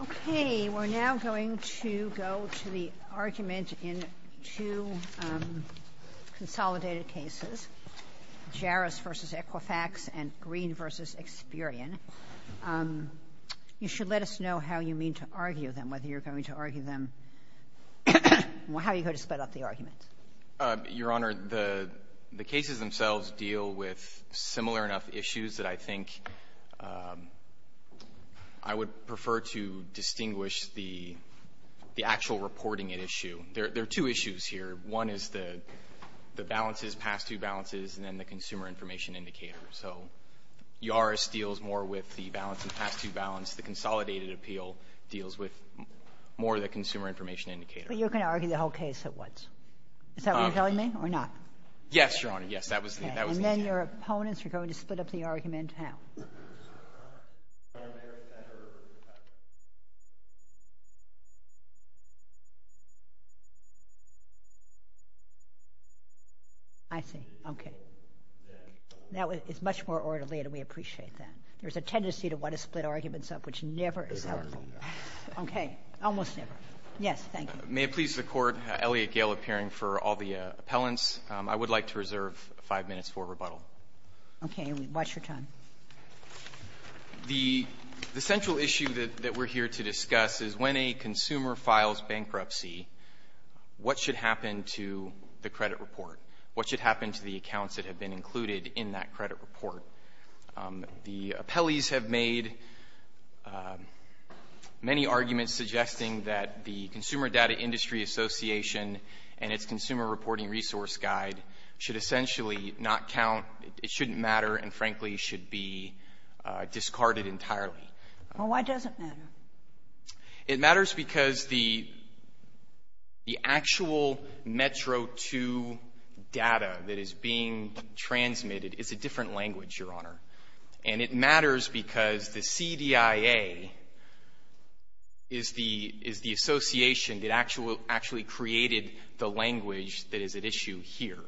Okay, we're now going to go to the argument in two consolidated cases, Jaras v. Equifax and Green v. Experian. You should let us know how you mean to argue them, whether you're going to argue them, how you're going to split up the arguments. Your Honor, the cases themselves deal with similar enough issues that I think I would prefer to distinguish the actual reporting issue. There are two issues here. One is the balances, past-due balances, and then the consumer information indicator. So Jaras deals more with the balance and past-due balance. The consolidated appeal deals with more of the consumer information indicator. But you're going to argue the whole case at once. Is that what you're telling me, or not? Yes, Your Honor. Yes, that was the intent. Okay, and then your opponents are going to split up the argument how? I see. Okay. Now, it's much more orderly, and we appreciate that. There's a tendency to want to split arguments up, which never is helpful. Okay, almost never. Yes, thank you. May it please the Court, Elliot Gale appearing for all the appellants. I would like to reserve five minutes for rebuttal. Okay. What's your time? The central issue that we're here to discuss is when a consumer files bankruptcy, what should happen to the credit report? What should happen to the accounts that have been included in that credit report? The appellees have made many arguments suggesting that the Consumer Data Industry Association and its Consumer Reporting Resource Guide should essentially not count, it shouldn't matter, and, frankly, should be discarded entirely. Well, why does it matter? It matters because the actual METRO II data that is being transmitted is a different thing. The CDIA is the association that actually created the language that is at issue here.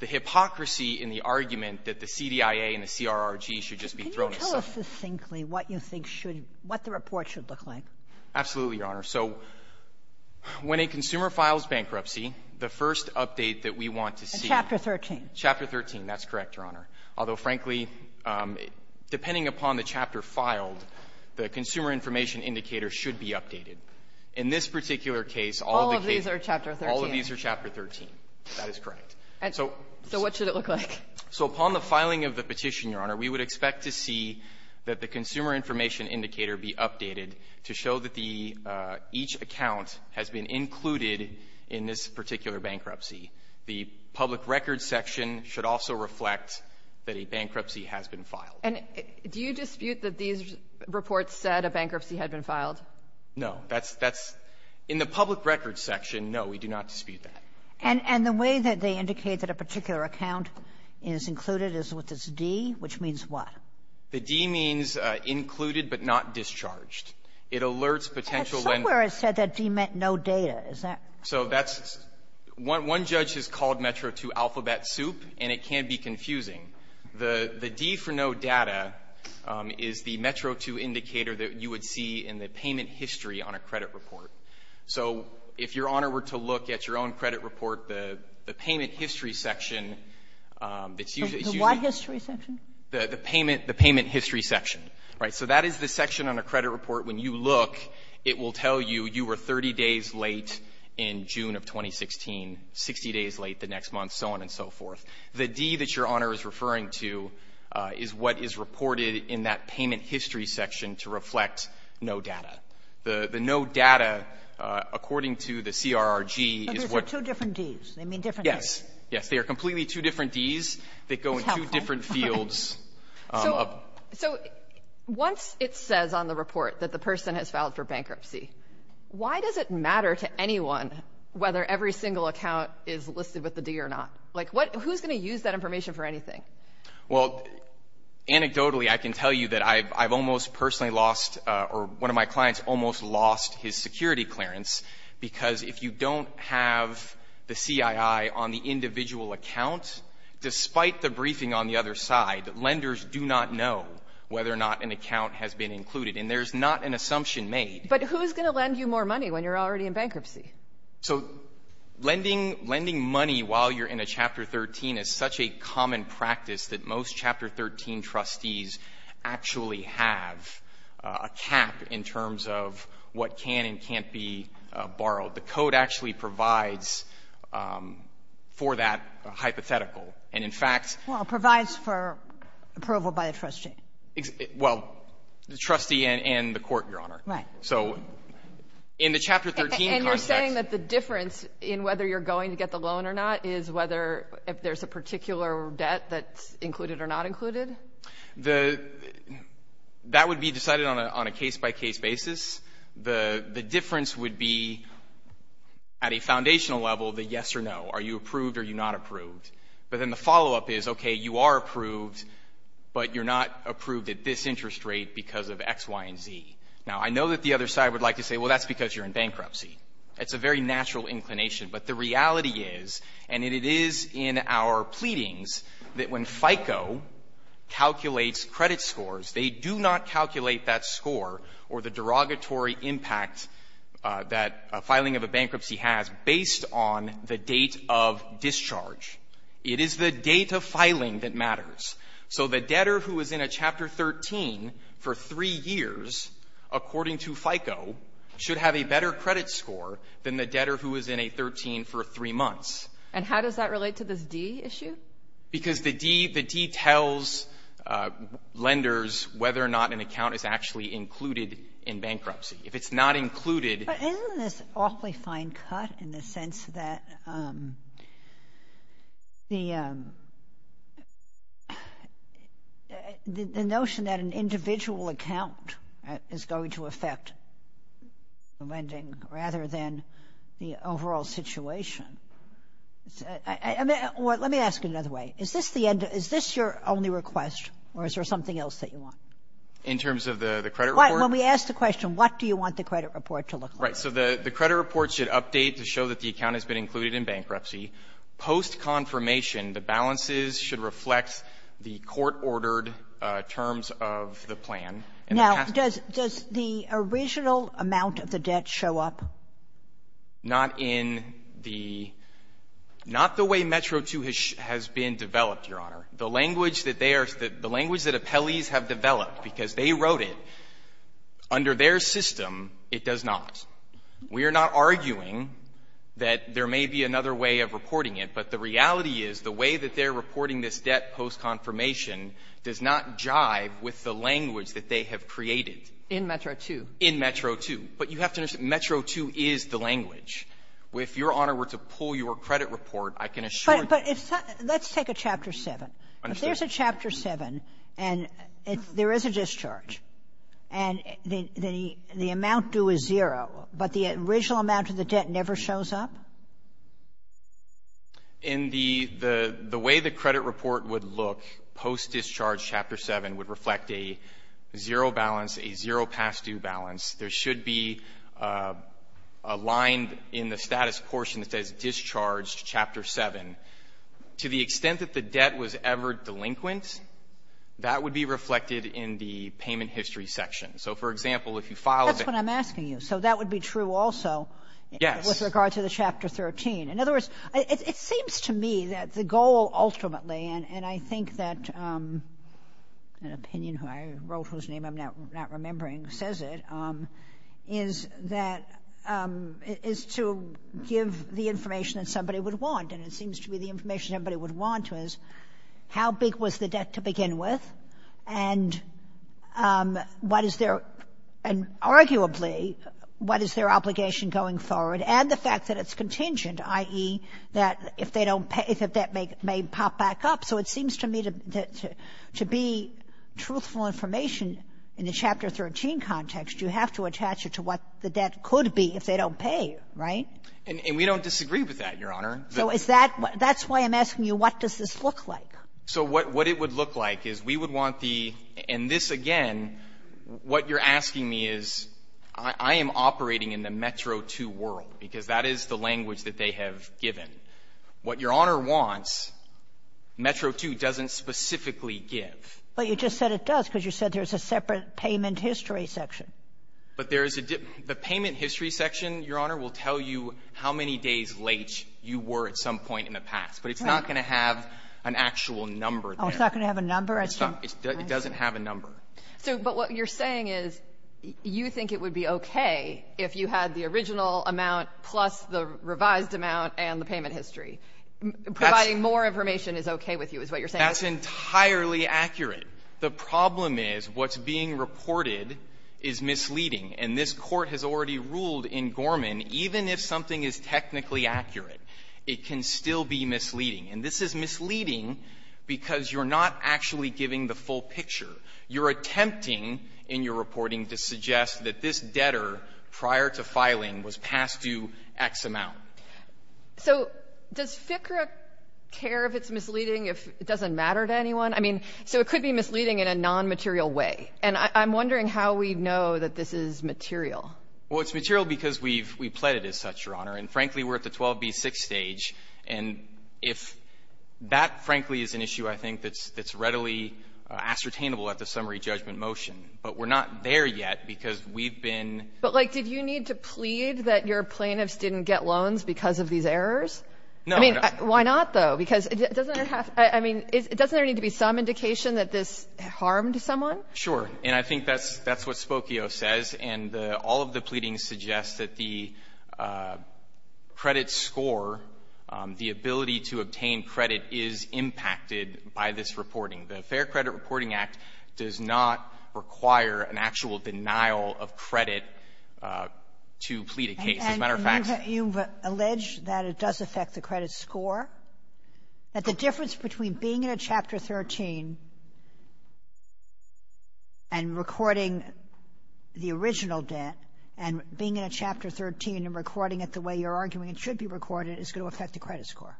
The hypocrisy in the argument that the CDIA and the CRRG should just be thrown aside. Can you tell us succinctly what you think should be, what the report should look like? Absolutely, Your Honor. So when a consumer files bankruptcy, the first update that we want to see ---- Chapter 13. Chapter 13. That's correct, Your Honor. Although, frankly, depending upon the chapter filed, the consumer information indicator should be updated. In this particular case, all of the case ---- All of these are Chapter 13. All of these are Chapter 13. That is correct. And so what should it look like? So upon the filing of the petition, Your Honor, we would expect to see that the consumer information indicator be updated to show that the ---- each account has been included in this particular bankruptcy. The public records section should also reflect that a bankruptcy has been filed. And do you dispute that these reports said a bankruptcy had been filed? No. That's ---- that's ---- in the public records section, no, we do not dispute that. And the way that they indicate that a particular account is included is with this D, which means what? The D means included but not discharged. It alerts potential ---- But somewhere it said that D meant no data. Is that ---- So that's ---- one judge has called Metro II alphabet soup, and it can be confusing. The D for no data is the Metro II indicator that you would see in the payment history on a credit report. So if Your Honor were to look at your own credit report, the payment history section that's usually ---- The what history section? The payment ---- the payment history section. Right. So that is the section on a credit report. When you look, it will tell you, you were 30 days late in June of 2016, 60 days late the next month, so on and so forth. The D that Your Honor is referring to is what is reported in that payment history section to reflect no data. The no data, according to the CRRG, is what ---- But those are two different Ds. They mean different Ds. Yes. Yes. They are completely two different Ds that go in two different fields. So once it says on the report that the person has filed for bankruptcy, why does it matter to anyone whether every single account is listed with the D or not? Like what ---- who's going to use that information for anything? Well, anecdotally, I can tell you that I've almost personally lost or one of my clients almost lost his security clearance because if you don't have the CII on the whether or not an account has been included. And there's not an assumption made. But who's going to lend you more money when you're already in bankruptcy? So lending money while you're in a Chapter 13 is such a common practice that most Chapter 13 trustees actually have a cap in terms of what can and can't be borrowed. The Code actually provides for that hypothetical. And in fact ---- Well, it provides for approval by the trustee. Well, the trustee and the court, Your Honor. Right. So in the Chapter 13 context ---- And you're saying that the difference in whether you're going to get the loan or not is whether if there's a particular debt that's included or not included? The ---- that would be decided on a case-by-case basis. The difference would be at a foundational level the yes or no. Are you approved or are you not approved? But then the follow-up is, okay, you are approved, but you're not approved at this interest rate because of X, Y, and Z. Now, I know that the other side would like to say, well, that's because you're in bankruptcy. It's a very natural inclination. But the reality is, and it is in our pleadings, that when FICO calculates credit scores, they do not calculate that score or the derogatory impact that a filing of a bankruptcy has based on the date of discharge. It is the date of filing that matters. So the debtor who is in a Chapter 13 for three years, according to FICO, should have a better credit score than the debtor who is in a 13 for three months. And how does that relate to this D issue? Because the D, the D tells lenders whether or not an account is actually included in bankruptcy. If it's not included ---- Isn't this awfully fine cut in the sense that the notion that an individual account is going to affect lending rather than the overall situation? Let me ask it another way. Is this the end? Is this your only request, or is there something else that you want? In terms of the credit report? When we ask the question, what do you want the credit report to look like? Right. So the credit report should update to show that the account has been included in bankruptcy. Post-confirmation, the balances should reflect the court-ordered terms of the plan. Now, does the original amount of the debt show up? Not in the ---- not the way Metro II has been developed, Your Honor. Because they wrote it. Under their system, it does not. We are not arguing that there may be another way of reporting it. But the reality is the way that they're reporting this debt post-confirmation does not jive with the language that they have created. In Metro II. In Metro II. But you have to understand, Metro II is the language. If Your Honor were to pull your credit report, I can assure you ---- But it's not ---- let's take a Chapter 7. I understand. But if you look at Chapter 7, and there is a discharge, and the amount due is zero, but the original amount of the debt never shows up? In the way the credit report would look, post-discharge Chapter 7 would reflect a zero balance, a zero past-due balance. There should be a line in the status portion that says discharge Chapter 7. To the extent that the debt was ever delinquent, that would be reflected in the payment history section. So, for example, if you filed a ---- That's what I'm asking you. So that would be true also with regard to the Chapter 13. In other words, it seems to me that the goal ultimately, and I think that an opinion who I wrote whose name I'm not remembering says it, is that to give the information that somebody would want. And it seems to be the information everybody would want is how big was the debt to begin with, and what is their ---- and arguably, what is their obligation going forward, and the fact that it's contingent, i.e., that if they don't pay, the debt may pop back up. So it seems to me that to be truthful information in the Chapter 13 context, you have to attach it to what the debt could be if they don't pay, right? And we don't disagree with that, Your Honor. So is that why ---- that's why I'm asking you, what does this look like? So what it would look like is we would want the ---- and this, again, what you're asking me is, I am operating in the Metro II world, because that is the language that they have given. What Your Honor wants, Metro II doesn't specifically give. But you just said it does, because you said there's a separate payment history section. But there is a ---- the payment history section, Your Honor, will tell you how many days late you were at some point in the past. But it's not going to have an actual number there. Oh, it's not going to have a number? It's not. It doesn't have a number. So but what you're saying is you think it would be okay if you had the original amount plus the revised amount and the payment history. Providing more information is okay with you is what you're saying. That's entirely accurate. The problem is what's being reported is misleading. And this Court has already ruled in Gorman, even if something is technically accurate, it can still be misleading. And this is misleading because you're not actually giving the full picture. You're attempting in your reporting to suggest that this debtor prior to filing was passed to X amount. So does FCRA care if it's misleading if it doesn't matter to anyone? I mean, so it could be misleading in a nonmaterial way. And I'm wondering how we know that this is material. Well, it's material because we've pledged it as such, Your Honor. And frankly, we're at the 12b-6 stage. And if that, frankly, is an issue I think that's readily ascertainable at the summary judgment motion. But we're not there yet because we've been ---- But, like, did you need to plead that your plaintiffs didn't get loans because of these errors? No. I mean, why not, though? Because it doesn't have to be some indication that this harmed someone? Sure. And I think that's what Spokio says. And all of the pleadings suggest that the credit score, the ability to obtain credit, is impacted by this reporting. The Fair Credit Reporting Act does not require an actual denial of credit to plead a case. As a matter of fact ---- And you've alleged that it does affect the credit score, that the difference between being in a Chapter 13 and recording the original debt and being in a Chapter 13 and recording it the way you're arguing it should be recorded is going to affect the credit score.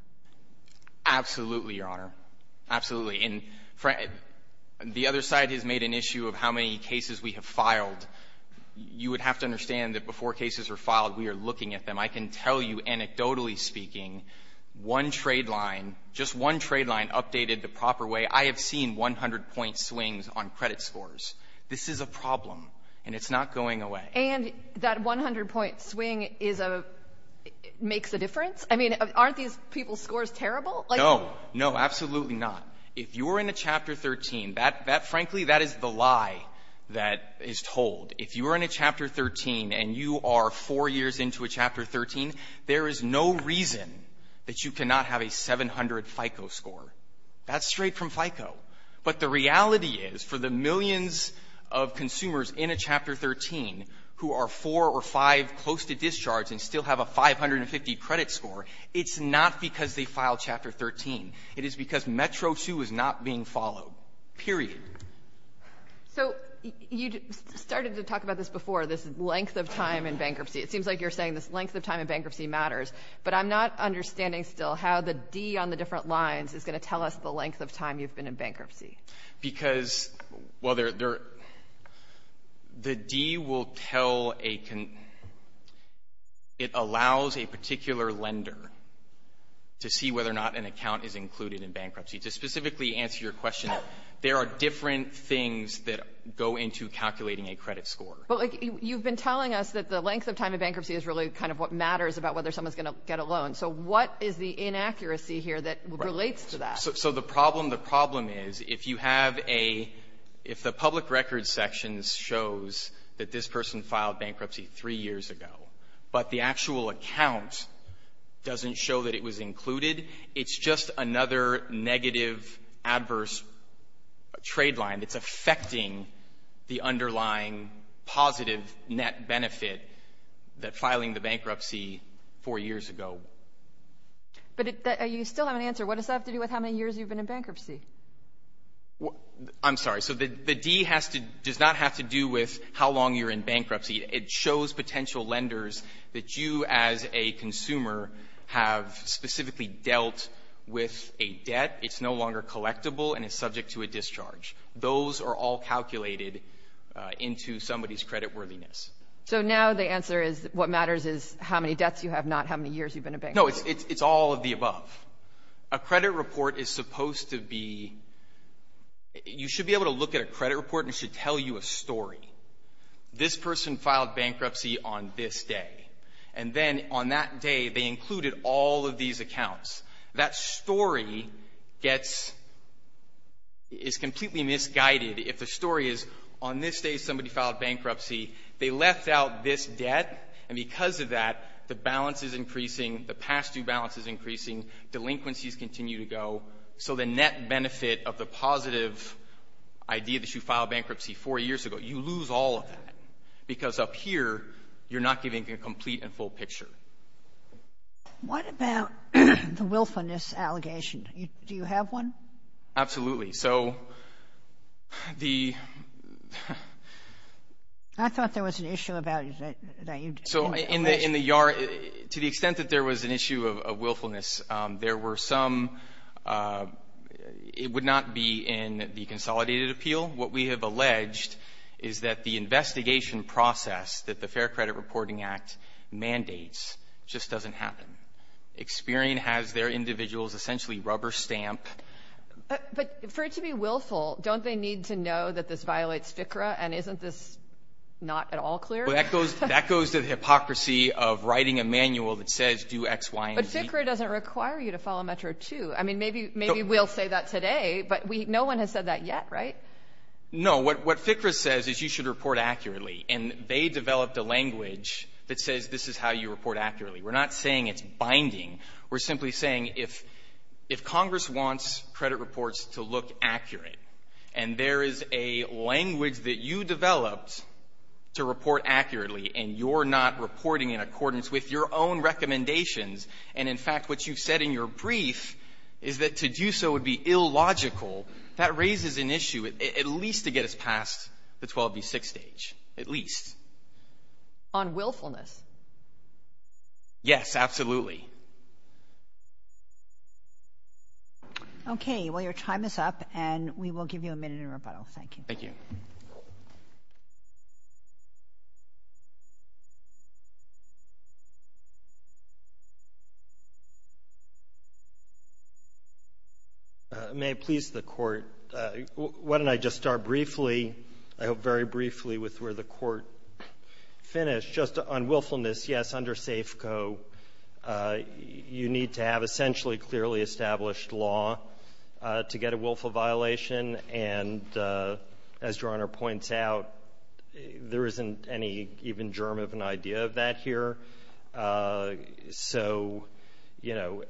Absolutely, Your Honor. Absolutely. And the other side has made an issue of how many cases we have filed. You would have to understand that before cases are filed, we are looking at them. I can tell you, anecdotally speaking, one trade line, just one trade line updated the proper way. I have seen 100-point swings on credit scores. This is a problem, and it's not going away. And that 100-point swing makes a difference? I mean, aren't these people's scores terrible? No. No, absolutely not. If you're in a Chapter 13, frankly, that is the lie that is told. If you are in a Chapter 13 and you are four years into a Chapter 13, there is no reason that you cannot have a 700 FICO score. That's straight from FICO. But the reality is, for the millions of consumers in a Chapter 13 who are four or five close to discharge and still have a 550 credit score, it's not because they filed Chapter 13. It is because Metro 2 is not being followed, period. So you started to talk about this before, this length of time in bankruptcy. It seems like you're saying this length of time in bankruptcy matters, but I'm not understanding still how the D on the different lines is going to tell us the length of time you've been in bankruptcy. Because, well, there — the D will tell a — it allows a particular lender to see whether or not an account is included in bankruptcy. To specifically answer your question, there are different things that go into calculating a credit score. But, like, you've been telling us that the length of time in bankruptcy is really kind of what matters about whether someone's going to get a loan. So what is the inaccuracy here that relates to that? So the problem — the problem is, if you have a — if the public records section shows that this person filed bankruptcy three years ago, but the actual account doesn't show that it was included, it's just another negative, adverse trade line that's affecting the underlying positive net benefit that filing the bankruptcy four years ago. But it — you still have an answer. What does that have to do with how many years you've been in bankruptcy? I'm sorry. So the D has to — does not have to do with how long you're in bankruptcy. It shows potential lenders that you, as a consumer, have specifically dealt with a debt. It's no longer collectible, and it's subject to a discharge. Those are all calculated into somebody's creditworthiness. So now the answer is, what matters is how many debts you have, not how many years you've been in bankruptcy. No, it's all of the above. A credit report is supposed to be — you should be able to look at a credit report, and it should tell you a story. This person filed bankruptcy on this day. And then on that day, they included all of these accounts. That story gets — is completely misguided. If the story is, on this day, somebody filed bankruptcy, they left out this debt, and because of that, the balance is increasing, the past-due balance is increasing, delinquencies continue to go. So the net benefit of the positive idea that you filed bankruptcy four years ago, you lose all of that, because up here, you're not giving a complete and full picture. What about the willfulness allegation? Do you have one? Absolutely. So the — I thought there was an issue about it that you mentioned. So in the — to the extent that there was an issue of willfulness, there were some — it would not be in the consolidated appeal. What we have alleged is that the investigation process that the Fair Credit Reporting Act mandates just doesn't happen. Experian has their individuals essentially rubber-stamped. But for it to be willful, don't they need to know that this violates FCRA, and isn't this not at all clear? That goes to the hypocrisy of writing a manual that says do X, Y, and Z. But FCRA doesn't require you to follow Metro 2. I mean, maybe we'll say that today, but no one has said that yet, right? No. What FCRA says is you should report accurately. And they developed a language that says this is how you report accurately. We're not saying it's binding. We're simply saying if Congress wants credit reports to look accurate, and there is a language that you developed to report accurately, and you're not reporting in accordance with your own recommendations, and, in fact, what you've said in your brief is that to do so would be illogical, that raises an issue. At least to get us past the 12B6 stage. At least. On willfulness. Yes, absolutely. Okay. Well, your time is up, and we will give you a minute in rebuttal. Thank you. May it please the Court, why don't I just start briefly, I hope very briefly, with where the Court finished, just on willfulness. Yes, under SAFCO, you need to have essentially clearly established law to get a As Your Honor points out, there isn't any even germ of an idea of that here. So, you know,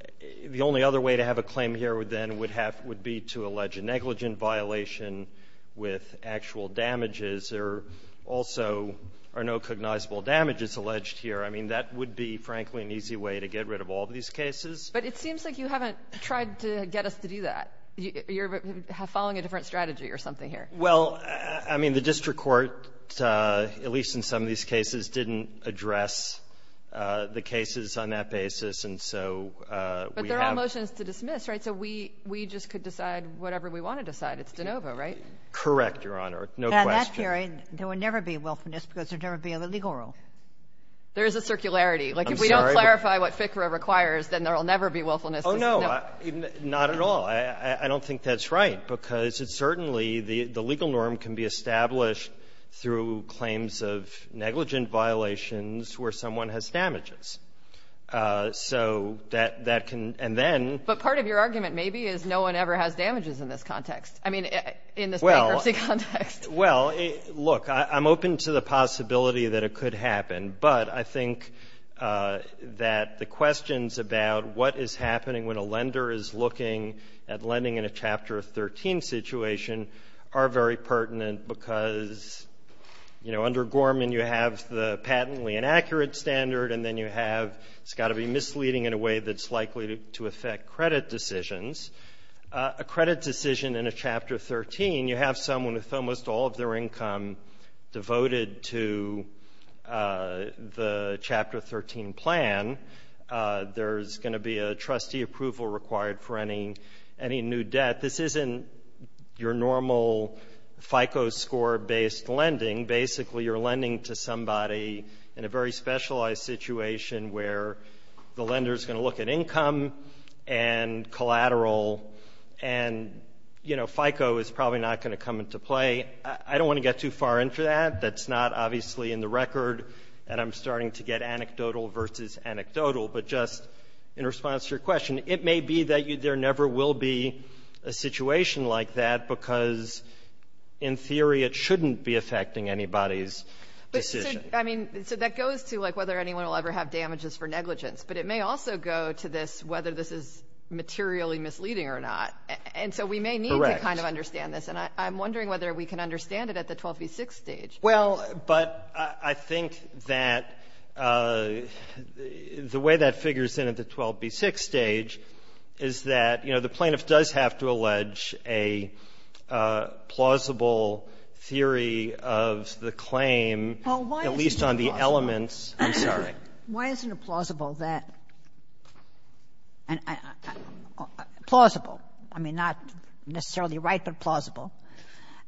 the only other way to have a claim here then would be to allege a negligent violation with actual damages. There also are no cognizable damages alleged here. I mean, that would be, frankly, an easy way to get rid of all these cases. But it seems like you haven't tried to get us to do that. You're following a different strategy or something here. Well, I mean, the district court, at least in some of these cases, didn't address the cases on that basis. And so we have to do that. But they're all motions to dismiss, right? So we just could decide whatever we want to decide. It's de novo, right? Correct, Your Honor. No question. Now, that theory, there would never be willfulness because there would never be a legal rule. There is a circularity. I'm sorry. Like, if we don't clarify what FCRA requires, then there will never be willfulness. Oh, no, not at all. I don't think that's right, because it's certainly the legal norm can be established through claims of negligent violations where someone has damages. So that can then be used as an excuse. But part of your argument maybe is no one ever has damages in this context. I mean, in this bankruptcy context. Well, look, I'm open to the possibility that it could happen. But I think that the questions about what is happening when a lender is looking at lending in a Chapter 13 situation are very pertinent because, you know, under Gorman, you have the patently inaccurate standard, and then you have it's got to be misleading in a way that's likely to affect credit decisions. A credit decision in a Chapter 13, you have someone with almost all of their income devoted to the Chapter 13 plan. There's going to be a trustee approval required for any new debt. This isn't your normal FICO score-based lending. Basically, you're lending to somebody in a very specialized situation where the lender is going to look at income and collateral. And, you know, FICO is probably not going to come into play. I don't want to get too far into that. That's not obviously in the record. And I'm starting to get anecdotal versus anecdotal. But just in response to your question, it may be that there never will be a situation like that because, in theory, it shouldn't be affecting anybody's decision. I mean, so that goes to, like, whether anyone will ever have damages for negligence. But it may also go to this, whether this is materially misleading or not. And so we may need to kind of understand this. And I'm wondering whether we can understand it at the 12v6 stage. Well, but I think that the way that figures in at the 12v6 stage is that, you know, the plaintiff does have to allege a plausible theory of the claim, at least on the elements. I'm sorry. Why isn't it plausible that and plausible, I mean, not necessarily right, but plausible,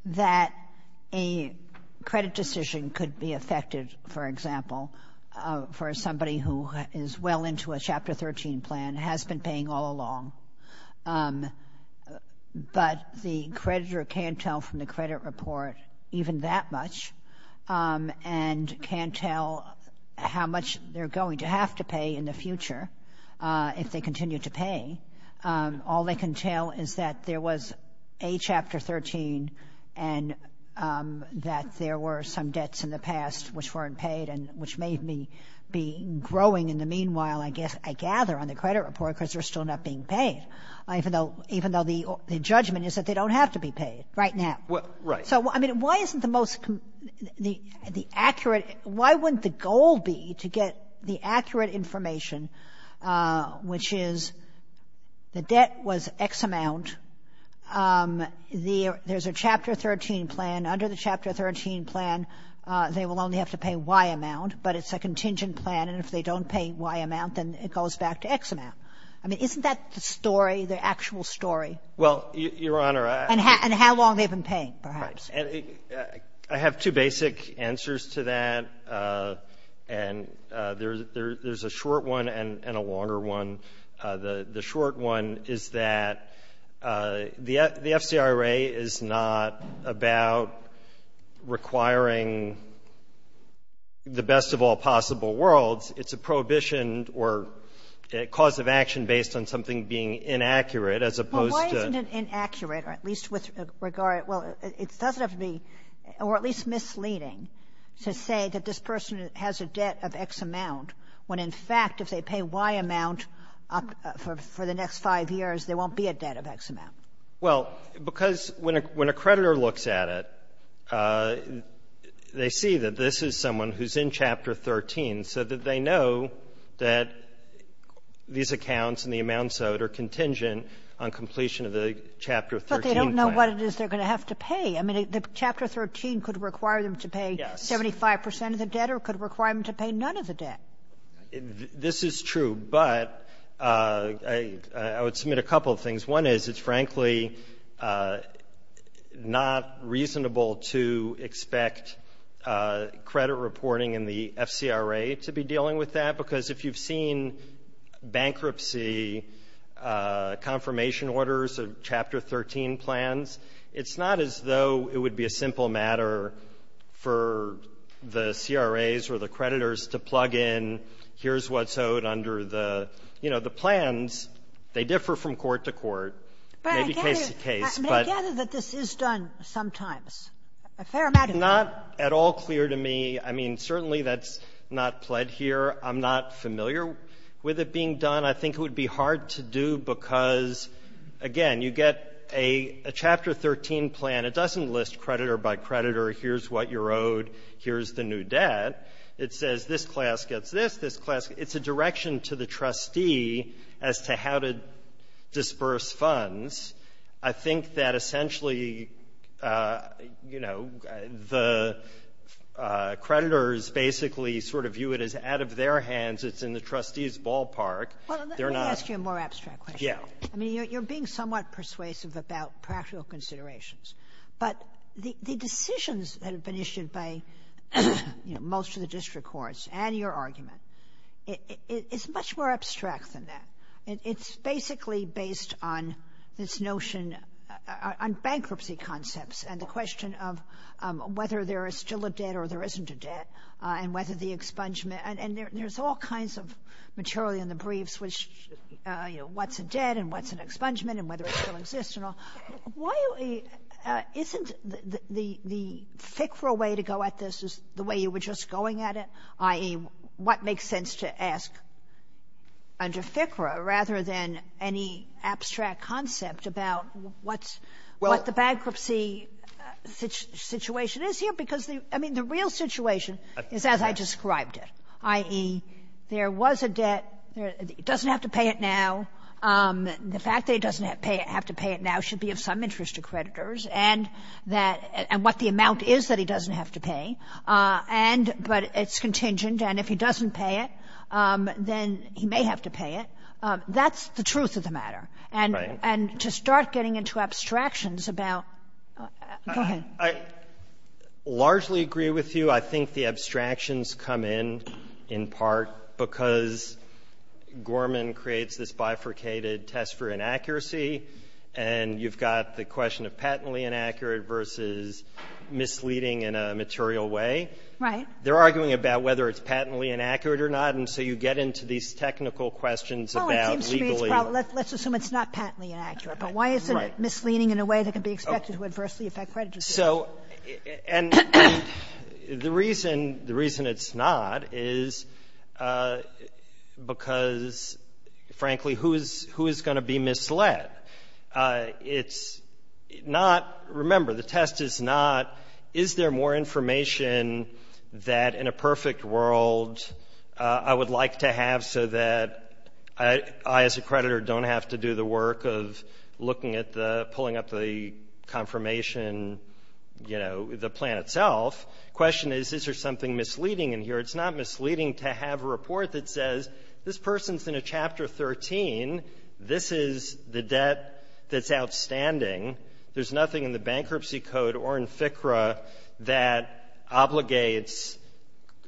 that a credit decision could be affected, for example, for somebody who is well into a Chapter 13 plan, has been paying all along, but the creditor can't tell from the credit report even that much and can't tell how much they're going to have to pay in the future if they continue to pay. All they can tell is that there was a Chapter 13 and that there were some debts in the past which weren't paid and which may be growing in the meanwhile, I guess, I gather, on the credit report because they're still not being paid, even though the judgment is that they don't have to be paid right now. Right. So, I mean, why isn't the most the accurate why wouldn't the goal be to get the accurate information, which is the debt was X amount, there's a Chapter 13 plan, under the Chapter 13 plan, they will only have to pay Y amount, but it's a contingent plan, and if they don't pay Y amount, then it goes back to X amount. I mean, isn't that the story, the actual story? Well, Your Honor, I actually don't know. And how long they've been paying, perhaps. And I have two basic answers to that, and there's a short one and a longer one. The short one is that the FCRA is not about requiring the best of all possible worlds, it's a prohibition or a cause of action based on something being inaccurate as opposed to the other. So it doesn't have to be, or at least misleading, to say that this person has a debt of X amount when, in fact, if they pay Y amount for the next five years, there won't be a debt of X amount. Well, because when a creditor looks at it, they see that this is someone who's in Chapter 13 so that they know that these accounts and the amounts owed are contingent on completion of the Chapter 13 plan. But that's not what it is they're going to have to pay. I mean, the Chapter 13 could require them to pay 75 percent of the debt or could require them to pay none of the debt. This is true, but I would submit a couple of things. One is it's, frankly, not reasonable to expect credit reporting in the FCRA to be dealing with that, because if you've seen bankruptcy confirmation orders of Chapter 13 plans, it's not as though it would be a simple matter for the CRAs or the creditors to plug in, here's what's owed under the plans. They differ from court to court, maybe case to case. But I gather that this is done sometimes, a fair amount of it. It's not at all clear to me. I mean, certainly that's not pled here. I'm not familiar with it being done. And I think it would be hard to do because, again, you get a Chapter 13 plan. It doesn't list creditor by creditor. Here's what you're owed. Here's the new debt. It says this class gets this, this class gets that. It's a direction to the trustee as to how to disperse funds. I think that essentially, you know, the creditors basically sort of view it as out of their hands. It's in the trustee's ballpark. They're not ---- Kagan. Well, let me ask you a more abstract question. I mean, you're being somewhat persuasive about practical considerations. But the decisions that have been issued by, you know, most of the district courts and your argument, it's much more abstract than that. It's basically based on this notion on bankruptcy concepts and the question of whether there is still a debt or there isn't a debt and whether the expungement and there's all kinds of material in the briefs which, you know, what's a debt and what's an expungement and whether it still exists and all. Isn't the FICRA way to go at this is the way you were just going at it, i.e., what makes sense to ask under FICRA rather than any abstract concept about what's what the bankruptcy situation is here? Because, I mean, the real situation is as I described it. I.e., there was a debt. It doesn't have to pay it now. The fact that it doesn't have to pay it now should be of some interest to creditors and that what the amount is that it doesn't have to pay. And but it's contingent. And if he doesn't pay it, then he may have to pay it. That's the truth of the matter. And to start getting into abstractions about go ahead. I largely agree with you. I think the abstractions come in, in part, because Gorman creates this bifurcated test for inaccuracy, and you've got the question of patently inaccurate versus misleading in a material way. Right. They're arguing about whether it's patently inaccurate or not. And so you get into these technical questions about legally or not. Let's assume it's not patently inaccurate. But why is it misleading in a way that can be expected to adversely affect creditors? So the reason it's not is because, frankly, who is going to be misled? It's not — remember, the test is not, is there more information that, in a perfect world, I would like to have so that I, as a creditor, don't have to do the work of looking at the — pulling up the confirmation, you know, the plan itself. The question is, is there something misleading in here? It's not misleading to have a report that says, this person's in a Chapter 13. This is the debt that's outstanding. There's nothing in the Bankruptcy Code or in FCRA that obligates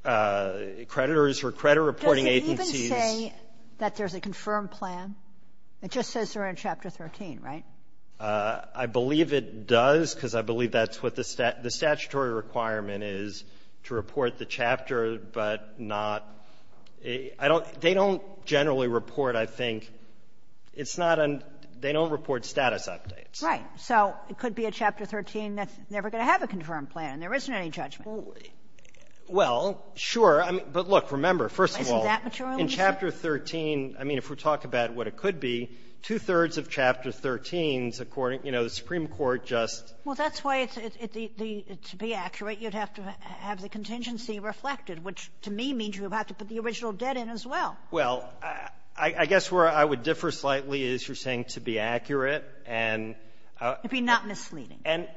creditors or credit reporting agencies — Does it even say that there's a confirmed plan? It just says they're in Chapter 13, right? I believe it does, because I believe that's what the statutory requirement is, to report the chapter, but not — I don't — they don't generally report, I think. It's not a — they don't report status updates. Right. So it could be a Chapter 13 that's never going to have a confirmed plan, and there isn't any judgment. Well, sure. But, look, remember, first of all, in Chapter 13, I mean, if we talk about what it could be, two-thirds of Chapter 13's, according — you know, the Supreme Court just — Well, that's why it's — to be accurate, you'd have to have the contingency reflected, which to me means you would have to put the original debt in as well. Well, I guess where I would differ slightly is you're saying to be accurate and — To be not misleading. And,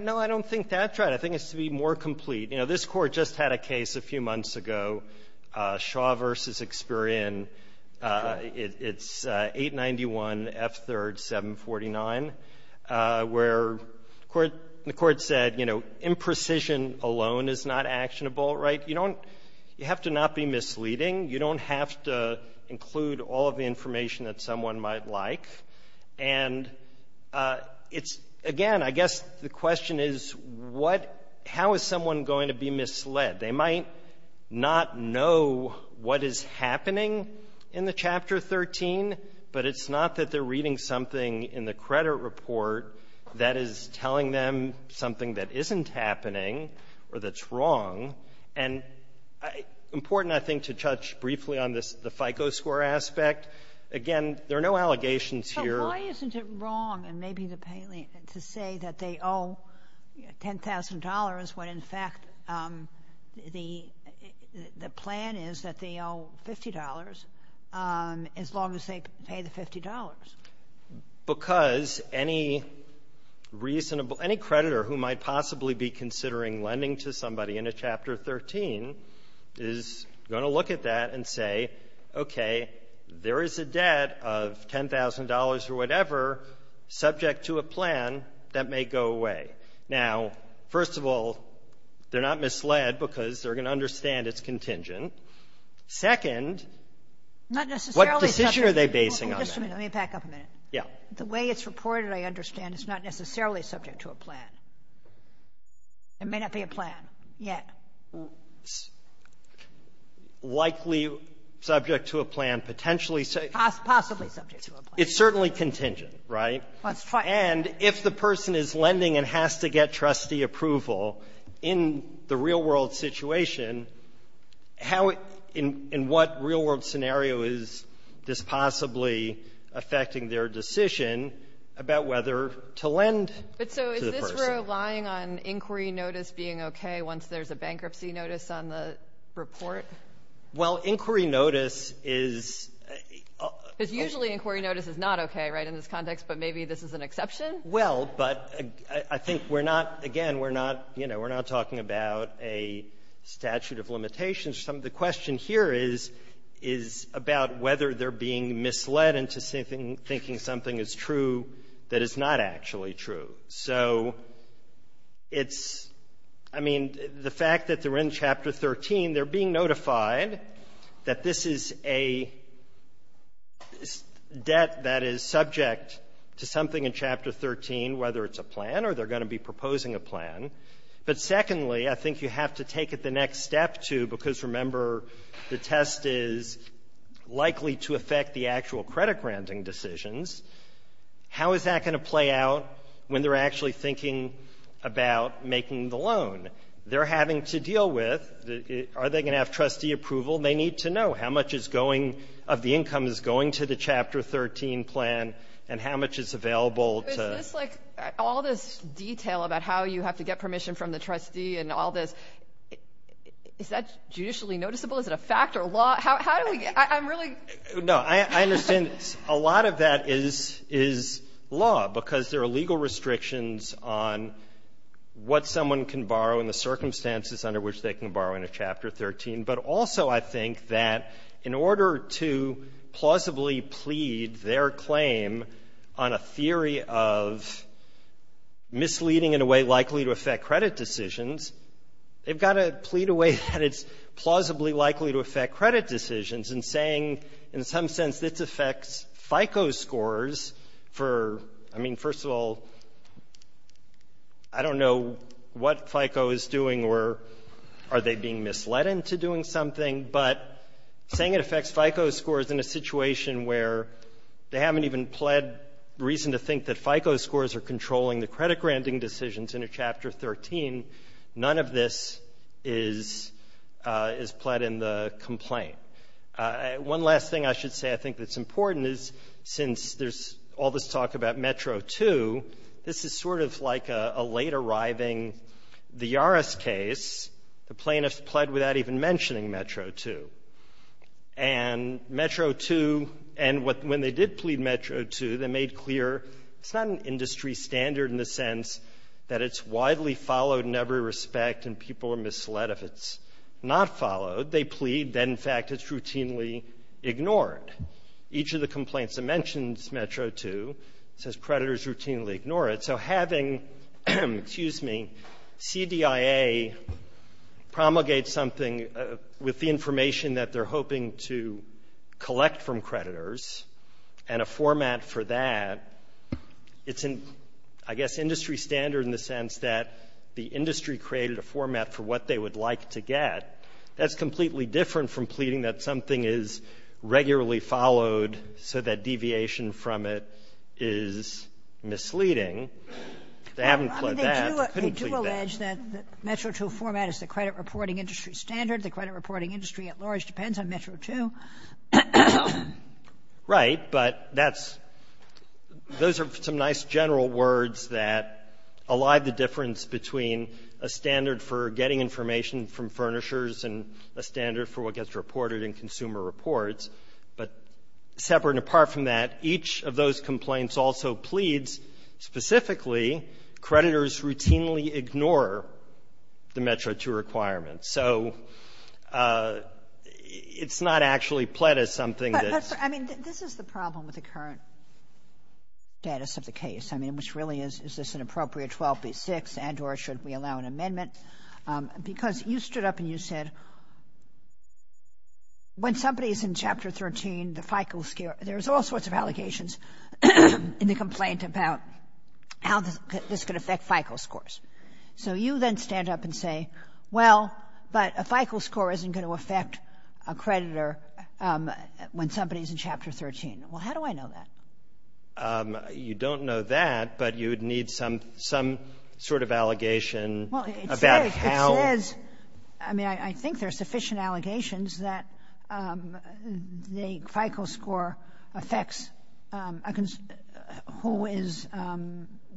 no, I don't think that's right. I think it's to be more complete. You know, this Court just had a case a few months ago, Shaw v. Experian. It's 891 F. 3rd, 749, where the Court said, you know, imprecision alone is not actionable. Right? You don't — you have to not be misleading. You don't have to include all of the information that someone might like. And it's — again, I guess the question is what — how is someone going to be misled? They might not know what is happening in the Chapter 13, but it's not that they're reading something in the credit report that is telling them something that isn't happening or that's wrong. And important, I think, to touch briefly on this — the FICO score aspect. Again, there are no allegations here. But why isn't it wrong, and maybe the — to say that they owe $10,000 when, in fact, the — the plan is that they owe $50 as long as they pay the $50? Because any reasonable — any creditor who might possibly be considering lending to somebody in a Chapter 13 is going to look at that and say, okay, there is a debt of $10,000 or whatever subject to a plan that may go away. Now, first of all, they're not misled because they're going to understand it's contingent. Second, what decision are they basing on? Kagan. Let me back up a minute. Yeah. The way it's reported, I understand, is not necessarily subject to a plan. It may not be a plan yet. Likely subject to a plan, potentially. Possibly subject to a plan. It's certainly contingent, right? That's right. And if the person is lending and has to get trustee approval in the real-world situation, how — in what real-world scenario is this possibly affecting their decision about whether to lend to the person? But so is this relying on inquiry notice being okay once there's a bankruptcy notice on the report? Well, inquiry notice is — Because usually inquiry notice is not okay, right, in this context. But maybe this is an exception? Well, but I think we're not — again, we're not — you know, we're not talking about a statute of limitations. The question here is, is about whether they're being misled into thinking something is true that is not actually true. So it's — I mean, the fact that they're in Chapter 13, they're being notified that this is a debt that is subject to something in Chapter 13, whether it's a plan or they're going to be proposing a plan. But secondly, I think you have to take it the next step to, because remember, the test is likely to affect the actual credit-granting decisions. How is that going to play out when they're actually thinking about making the loan? They're having to deal with, are they going to have trustee approval? They need to know how much is going — of the income is going to the Chapter 13 plan and how much is available to — But is this like all this detail about how you have to get permission from the trustee and all this, is that judicially noticeable? Is it a fact or a law? How do we — I'm really — No. I understand a lot of that is — is law, because there are legal restrictions on what someone can borrow and the circumstances under which they can borrow in a Chapter 13. But also I think that in order to plausibly plead their claim on a theory of misleading in a way likely to affect credit decisions, they've got to plead a way that it's affecting, in some sense, it affects FICO scores for — I mean, first of all, I don't know what FICO is doing or are they being misled into doing something, but saying it affects FICO scores in a situation where they haven't even pled reason to think that FICO scores are controlling the credit-granting decisions in a Chapter 13. None of this is — is pled in the complaint. One last thing I should say I think that's important is, since there's all this talk about Metro II, this is sort of like a late-arriving, the Yaris case. The plaintiffs pled without even mentioning Metro II. And Metro II — and when they did plead Metro II, they made clear it's not an industry standard in the sense that it's widely followed in every respect, and people are misled if it's not followed. They plead, then, in fact, it's routinely ignored. Each of the complaints that mentions Metro II says creditors routinely ignore it. So having — excuse me — CDIA promulgate something with the information that they're hoping to collect from creditors and a format for that, it's an, I guess, industry standard in the sense that the industry created a format for what they would like to get. That's completely different from pleading that something is regularly followed so that deviation from it is misleading. They haven't pled that, but couldn't plead that. They do — they do allege that the Metro II format is the credit reporting industry standard. The credit reporting industry at large depends on Metro II. Right. But that's — those are some nice general words that allive the difference between a standard for getting information from furnishers and a standard for what gets reported in consumer reports. But separate and apart from that, each of those complaints also pleads specifically creditors routinely ignore the Metro II requirements. So it's not actually pled as something that's — But, I mean, this is the problem with the current status of the case, I mean, which really is, is this an appropriate 12B6 and or should we allow an amendment? Because you stood up and you said, when somebody is in Chapter 13, the FICO — there's all sorts of allegations in the complaint about how this could affect FICO scores. So you then stand up and say, well, but a FICO score isn't going to affect a creditor when somebody is in Chapter 13. Well, how do I know that? You don't know that, but you would need some sort of allegation about how — Well, it says — it says — I mean, I think there are sufficient allegations that the FICO score affects who is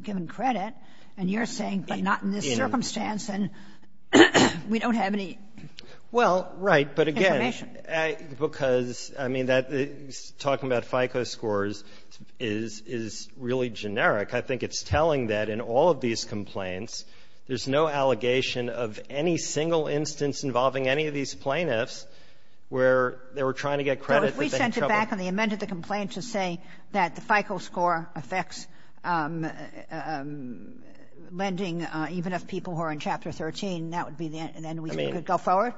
given credit. And you're saying, but not in this circumstance, and we don't have any information. Because, I mean, that — talking about FICO scores is — is really generic. I think it's telling that in all of these complaints, there's no allegation of any single instance involving any of these plaintiffs where they were trying to get credit, but they had trouble. So if we sent it back and they amended the complaint to say that the FICO score affects lending even of people who are in Chapter 13, that would be the end? I mean — We could go forward?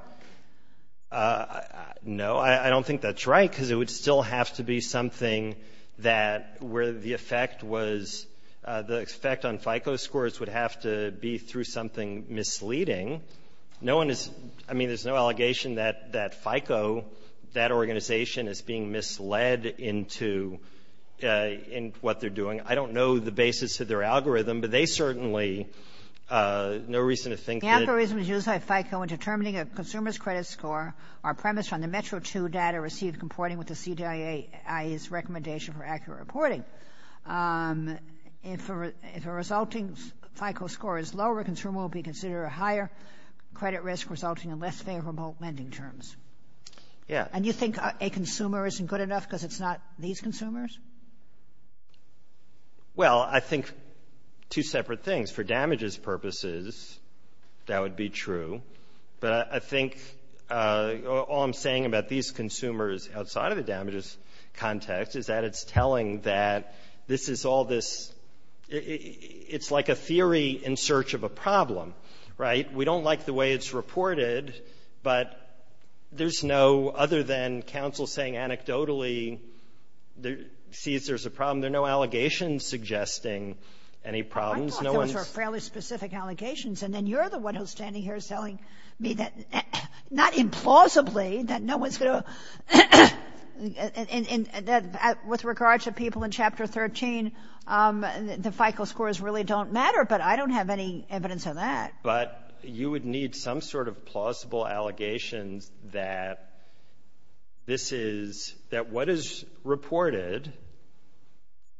No. I don't think that's right, because it would still have to be something that — where the effect was — the effect on FICO scores would have to be through something misleading. No one is — I mean, there's no allegation that — that FICO, that organization, is being misled into — in what they're doing. I don't know the basis of their algorithm, but they certainly — no reason to think that — The algorithm used by FICO in determining a consumer's credit score are premised on the METRO II data received comporting with the CDIA, i.e., its recommendation for accurate reporting. If a resulting FICO score is lower, a consumer will be considered a higher credit risk, resulting in less favorable lending terms. Yes. And you think a consumer isn't good enough because it's not these consumers? Well, I think two separate things. For damages purposes, that would be true. But I think all I'm saying about these consumers outside of the damages context is that it's telling that this is all this — it's like a theory in search of a problem. Right? We don't like the way it's reported, but there's no — other than counsel saying anecdotally sees there's a problem, there are no allegations suggesting any problems. I thought those were fairly specific allegations, and then you're the one who's standing here telling me that — not implausibly, that no one's going to — that with regard to people in Chapter 13, the FICO scores really don't matter. But I don't have any evidence of that. But you would need some sort of plausible allegations that this is — that what is reported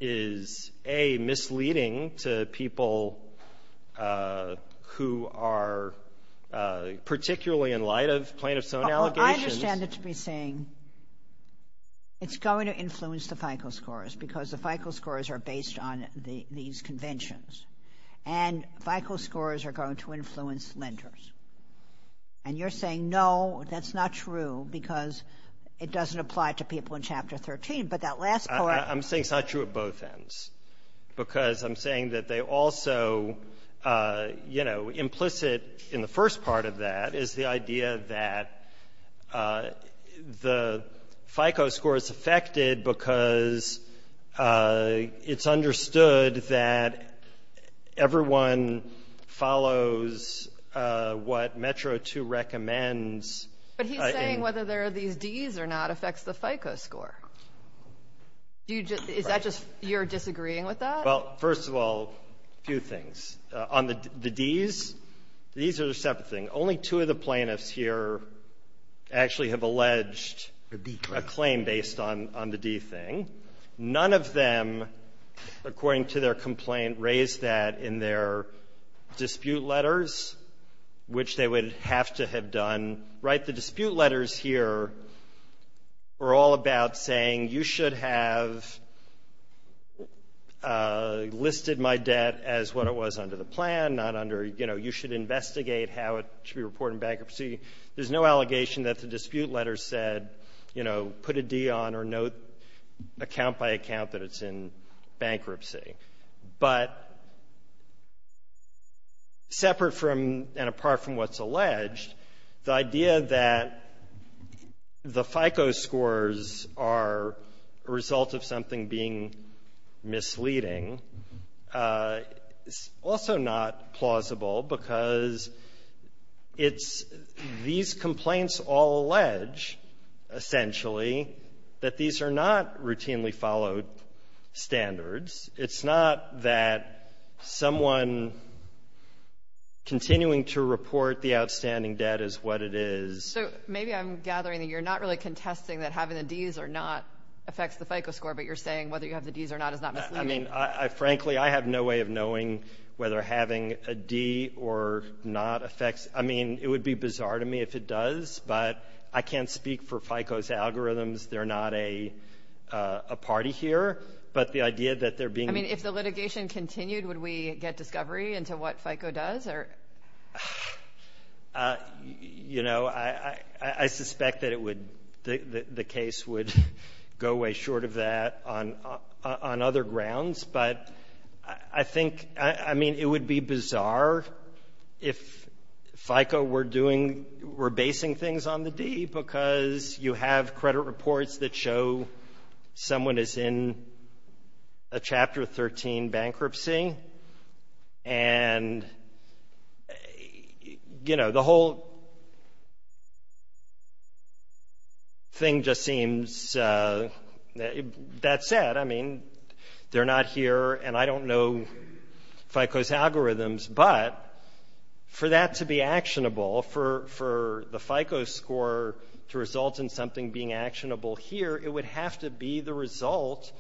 is, A, misleading to people who are particularly in light of plaintiffs' own allegations. Well, I understand it to be saying it's going to influence the FICO scores because the FICO scores are based on these conventions, and FICO scores are going to influence lenders. And you're saying, no, that's not true because it doesn't apply to people in Chapter 13. But that last part — I'm saying it's not true at both ends because I'm saying that they also, you know, implicit in the first part of that is the idea that the FICO score is affected because it's understood that everyone follows what Metro 2 recommends. But he's saying whether there are these Ds or not affects the FICO score. Is that just — you're disagreeing with that? Well, first of all, a few things. On the Ds, these are a separate thing. Only two of the plaintiffs here actually have alleged a claim based on the D thing. None of them, according to their complaint, raised that in their dispute letters, which they would have to have done. Right? The dispute letters here are all about saying you should have listed my debt as what it was under the plan, not under, you know, you should investigate how it should be reported in bankruptcy. There's no allegation that the dispute letter said, you know, put a D on or note account by account that it's in bankruptcy. But separate from and apart from what's alleged, the idea that the FICO scores are a result of something being misleading is also not plausible because it's — these complaints all allege, essentially, that these are not routinely followed standards. It's not that someone continuing to report the outstanding debt is what it is. So maybe I'm gathering that you're not really contesting that having the Ds or not Frankly, I have no way of knowing whether having a D or not affects — I mean, it would be bizarre to me if it does, but I can't speak for FICO's algorithms. They're not a party here. But the idea that they're being — I mean, if the litigation continued, would we get discovery into what FICO does or — You know, I suspect that it would — the case would go way short of that on other grounds. But I think — I mean, it would be bizarre if FICO were doing — were basing things on the D because you have credit reports that show someone is in a Chapter 13 bankruptcy. And, you know, the whole thing just seems — that said, I mean, they're not here, and I don't know FICO's algorithms, but for that to be actionable, for the FICO score to result in something being actionable here, it would have to be the result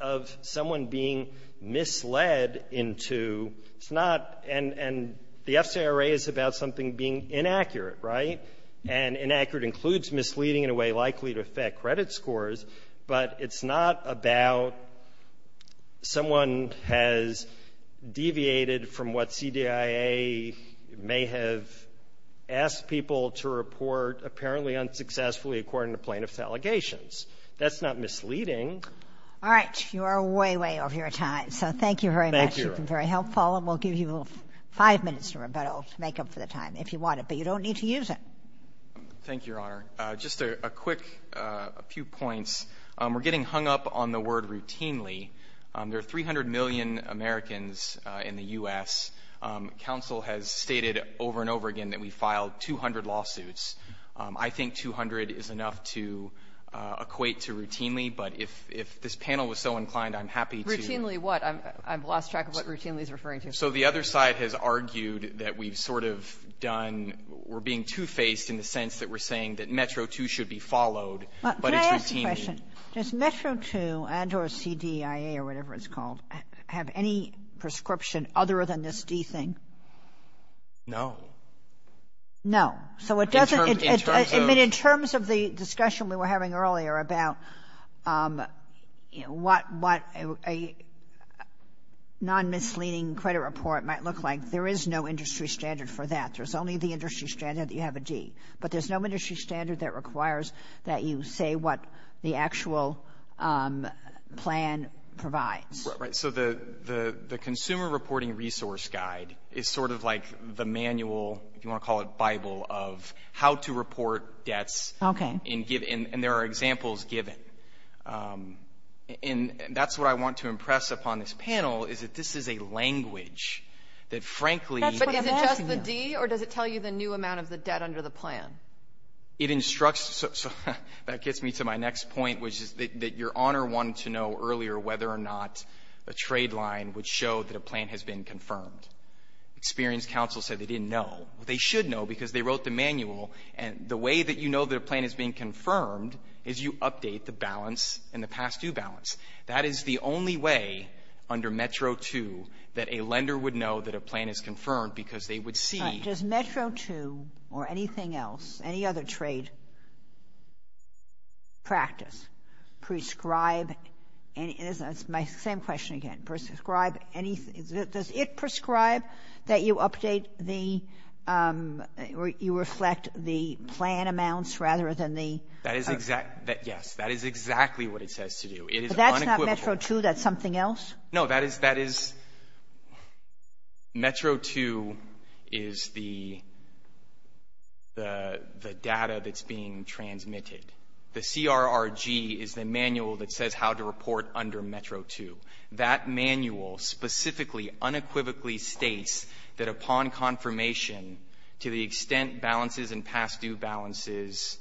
of someone being misled into — it's not — and the FCRA is about something being inaccurate, right? And inaccurate includes misleading in a way likely to affect credit scores, but it's not about someone has deviated from what CDIA may have asked people to report apparently unsuccessfully, according to plaintiff's allegations. That's not misleading. All right. You are way, way over your time. So thank you very much. Thank you. You've been very helpful, and we'll give you five minutes to make up for the time, if you want it. But you don't need to use it. Thank you, Your Honor. Just a quick — a few points. We're getting hung up on the word routinely. There are 300 million Americans in the U.S. Counsel has stated over and over again that we filed 200 lawsuits. I think 200 is enough to equate to routinely, but if this panel was so inclined, I'm happy to — So the other side has argued that we've sort of done — we're being two-faced in the sense that we're saying that Metro 2 should be followed, but it's routinely — Can I ask a question? Does Metro 2 and or CDIA or whatever it's called have any prescription other than this D thing? No. No. So it doesn't — In terms of — what a non-misleading credit report might look like, there is no industry standard for that. There's only the industry standard that you have a D. But there's no industry standard that requires that you say what the actual plan provides. Right. So the Consumer Reporting Resource Guide is sort of like the manual, if you want to call it Bible, of how to report debts. Okay. And there are examples given. And that's what I want to impress upon this panel, is that this is a language that, frankly — That's what I'm asking you. But is it just the D, or does it tell you the new amount of the debt under the plan? It instructs — that gets me to my next point, which is that Your Honor wanted to know earlier whether or not a trade line would show that a plan has been confirmed. Experienced counsel said they didn't know. They should know because they wrote the is you update the balance and the past-due balance. That is the only way under Metro-2 that a lender would know that a plan is confirmed because they would see — But does Metro-2 or anything else, any other trade practice prescribe any — that's my same question again. Prescribe any — does it prescribe that you update the — you reflect the plan amounts rather than the — That is exactly — yes. That is exactly what it says to do. It is unequivocal. But that's not Metro-2. That's something else? No. That is — that is — Metro-2 is the — the data that's being transmitted. The CRRG is the manual that says how to report under Metro-2. That manual specifically unequivocally states that upon confirmation, to the extent balances and past-due balances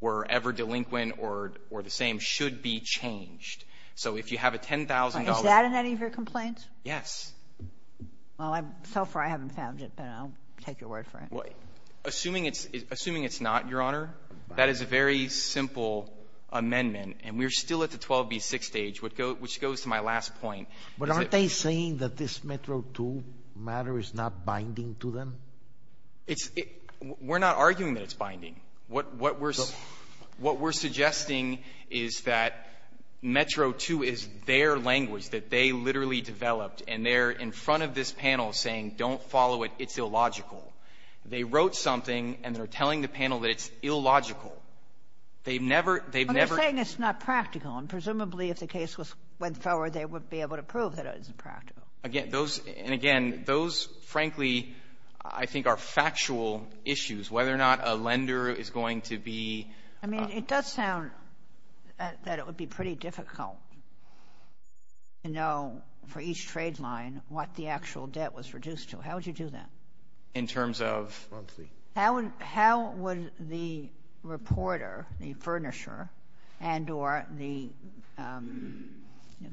were ever delinquent or the same, should be changed. So if you have a $10,000 — Is that in any of your complaints? Yes. Well, so far I haven't found it, but I'll take your word for it. Assuming it's — assuming it's not, Your Honor, that is a very simple amendment. And we're still at the 12b6 stage, which goes to my last point. But aren't they saying that this Metro-2 matter is not binding to them? It's — we're not arguing that it's binding. What — what we're — what we're suggesting is that Metro-2 is their language that they literally developed, and they're in front of this panel saying, don't follow it, it's illogical. They wrote something, and they're telling the panel that it's illogical. They've never — they've never — Well, they're saying it's not practical. And presumably, if the case was — went forward, they would be able to prove that it is impractical. Again, those — and again, those, frankly, I think are factual issues, whether or not a lender is going to be — I mean, it does sound that it would be pretty difficult, you know, for each trade line what the actual debt was reduced to. How would you do that? In terms of — Monthly. How would — how would the reporter, the furnisher, and or the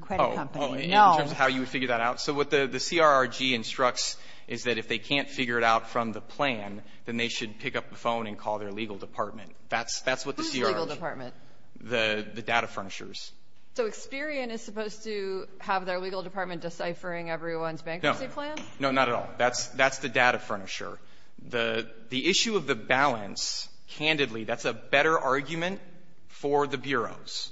credit company know — Well, in terms of how you would figure that out, so what the CRRG instructs is that if they can't figure it out from the plan, then they should pick up the phone and call their legal department. That's — that's what the CRRG — Who's the legal department? The — the data furnishers. So Experian is supposed to have their legal department deciphering everyone's bankruptcy plan? No. No, not at all. That's — that's the data furnisher. The — the issue of the balance, candidly, that's a better argument for the bureaus.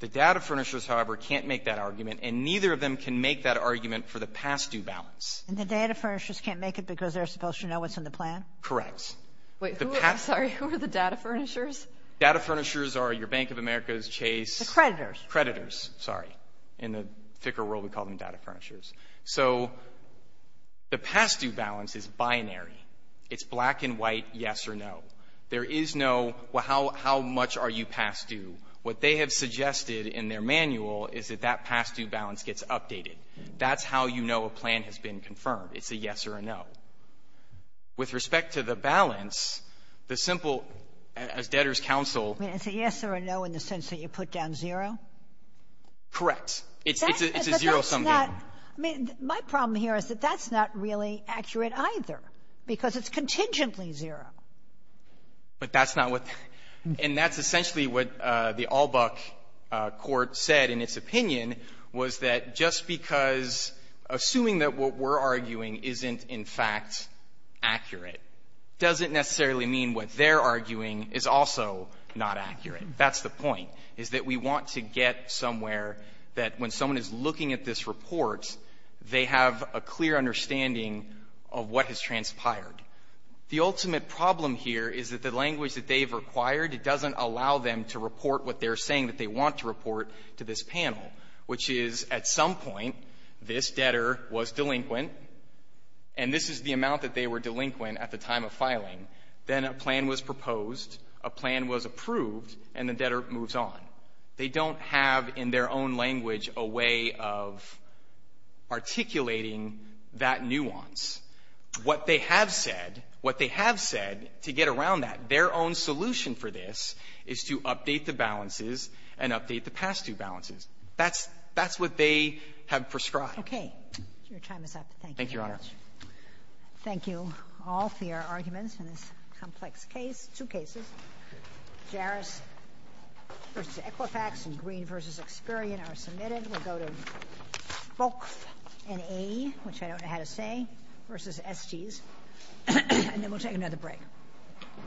The data furnishers, however, can't make that argument, and neither of them can make that argument for the past-due balance. And the data furnishers can't make it because they're supposed to know what's in the plan? Correct. Wait, who — I'm sorry. Who are the data furnishers? Data furnishers are your Bank of America's Chase — The creditors. Creditors, sorry. In the thicker world, we call them data furnishers. So the past-due balance is binary. It's black and white, yes or no. There is no, well, how — how much are you past due? What they have suggested in their manual is that that past-due balance gets updated. That's how you know a plan has been confirmed. It's a yes or a no. With respect to the balance, the simple — as debtors counsel — I mean, it's a yes or a no in the sense that you put down zero? Correct. It's — it's a zero-sum game. But that's not — I mean, my problem here is that that's not really accurate either because it's contingently zero. But that's not what — and that's essentially what the Albuck court said in its opinion was that just because — assuming that what we're arguing isn't, in fact, accurate, doesn't necessarily mean what they're arguing is also not accurate. That's the point, is that we want to get somewhere that when someone is looking at this report, they have a clear understanding of what has transpired. The ultimate problem here is that the language that they've required, it doesn't allow them to report what they're saying that they want to report to this panel, which is, at some point, this debtor was delinquent, and this is the amount that they were delinquent at the time of filing. Then a plan was proposed, a plan was approved, and the debtor moves on. They don't have in their own language a way of articulating that nuance. What they have said, what they have said to get around that, their own solution for this, is to update the balances and update the past-due balances. That's — that's what they have prescribed. Okay. Your time is up. Thank you very much. Thank you, Your Honor. Thank you all for your arguments in this complex case. Two cases, Jarris v. Equifax and Green v. Experian, are submitted. We'll go to both an A, which I don't know how to say, versus SGs, and then we'll take another break.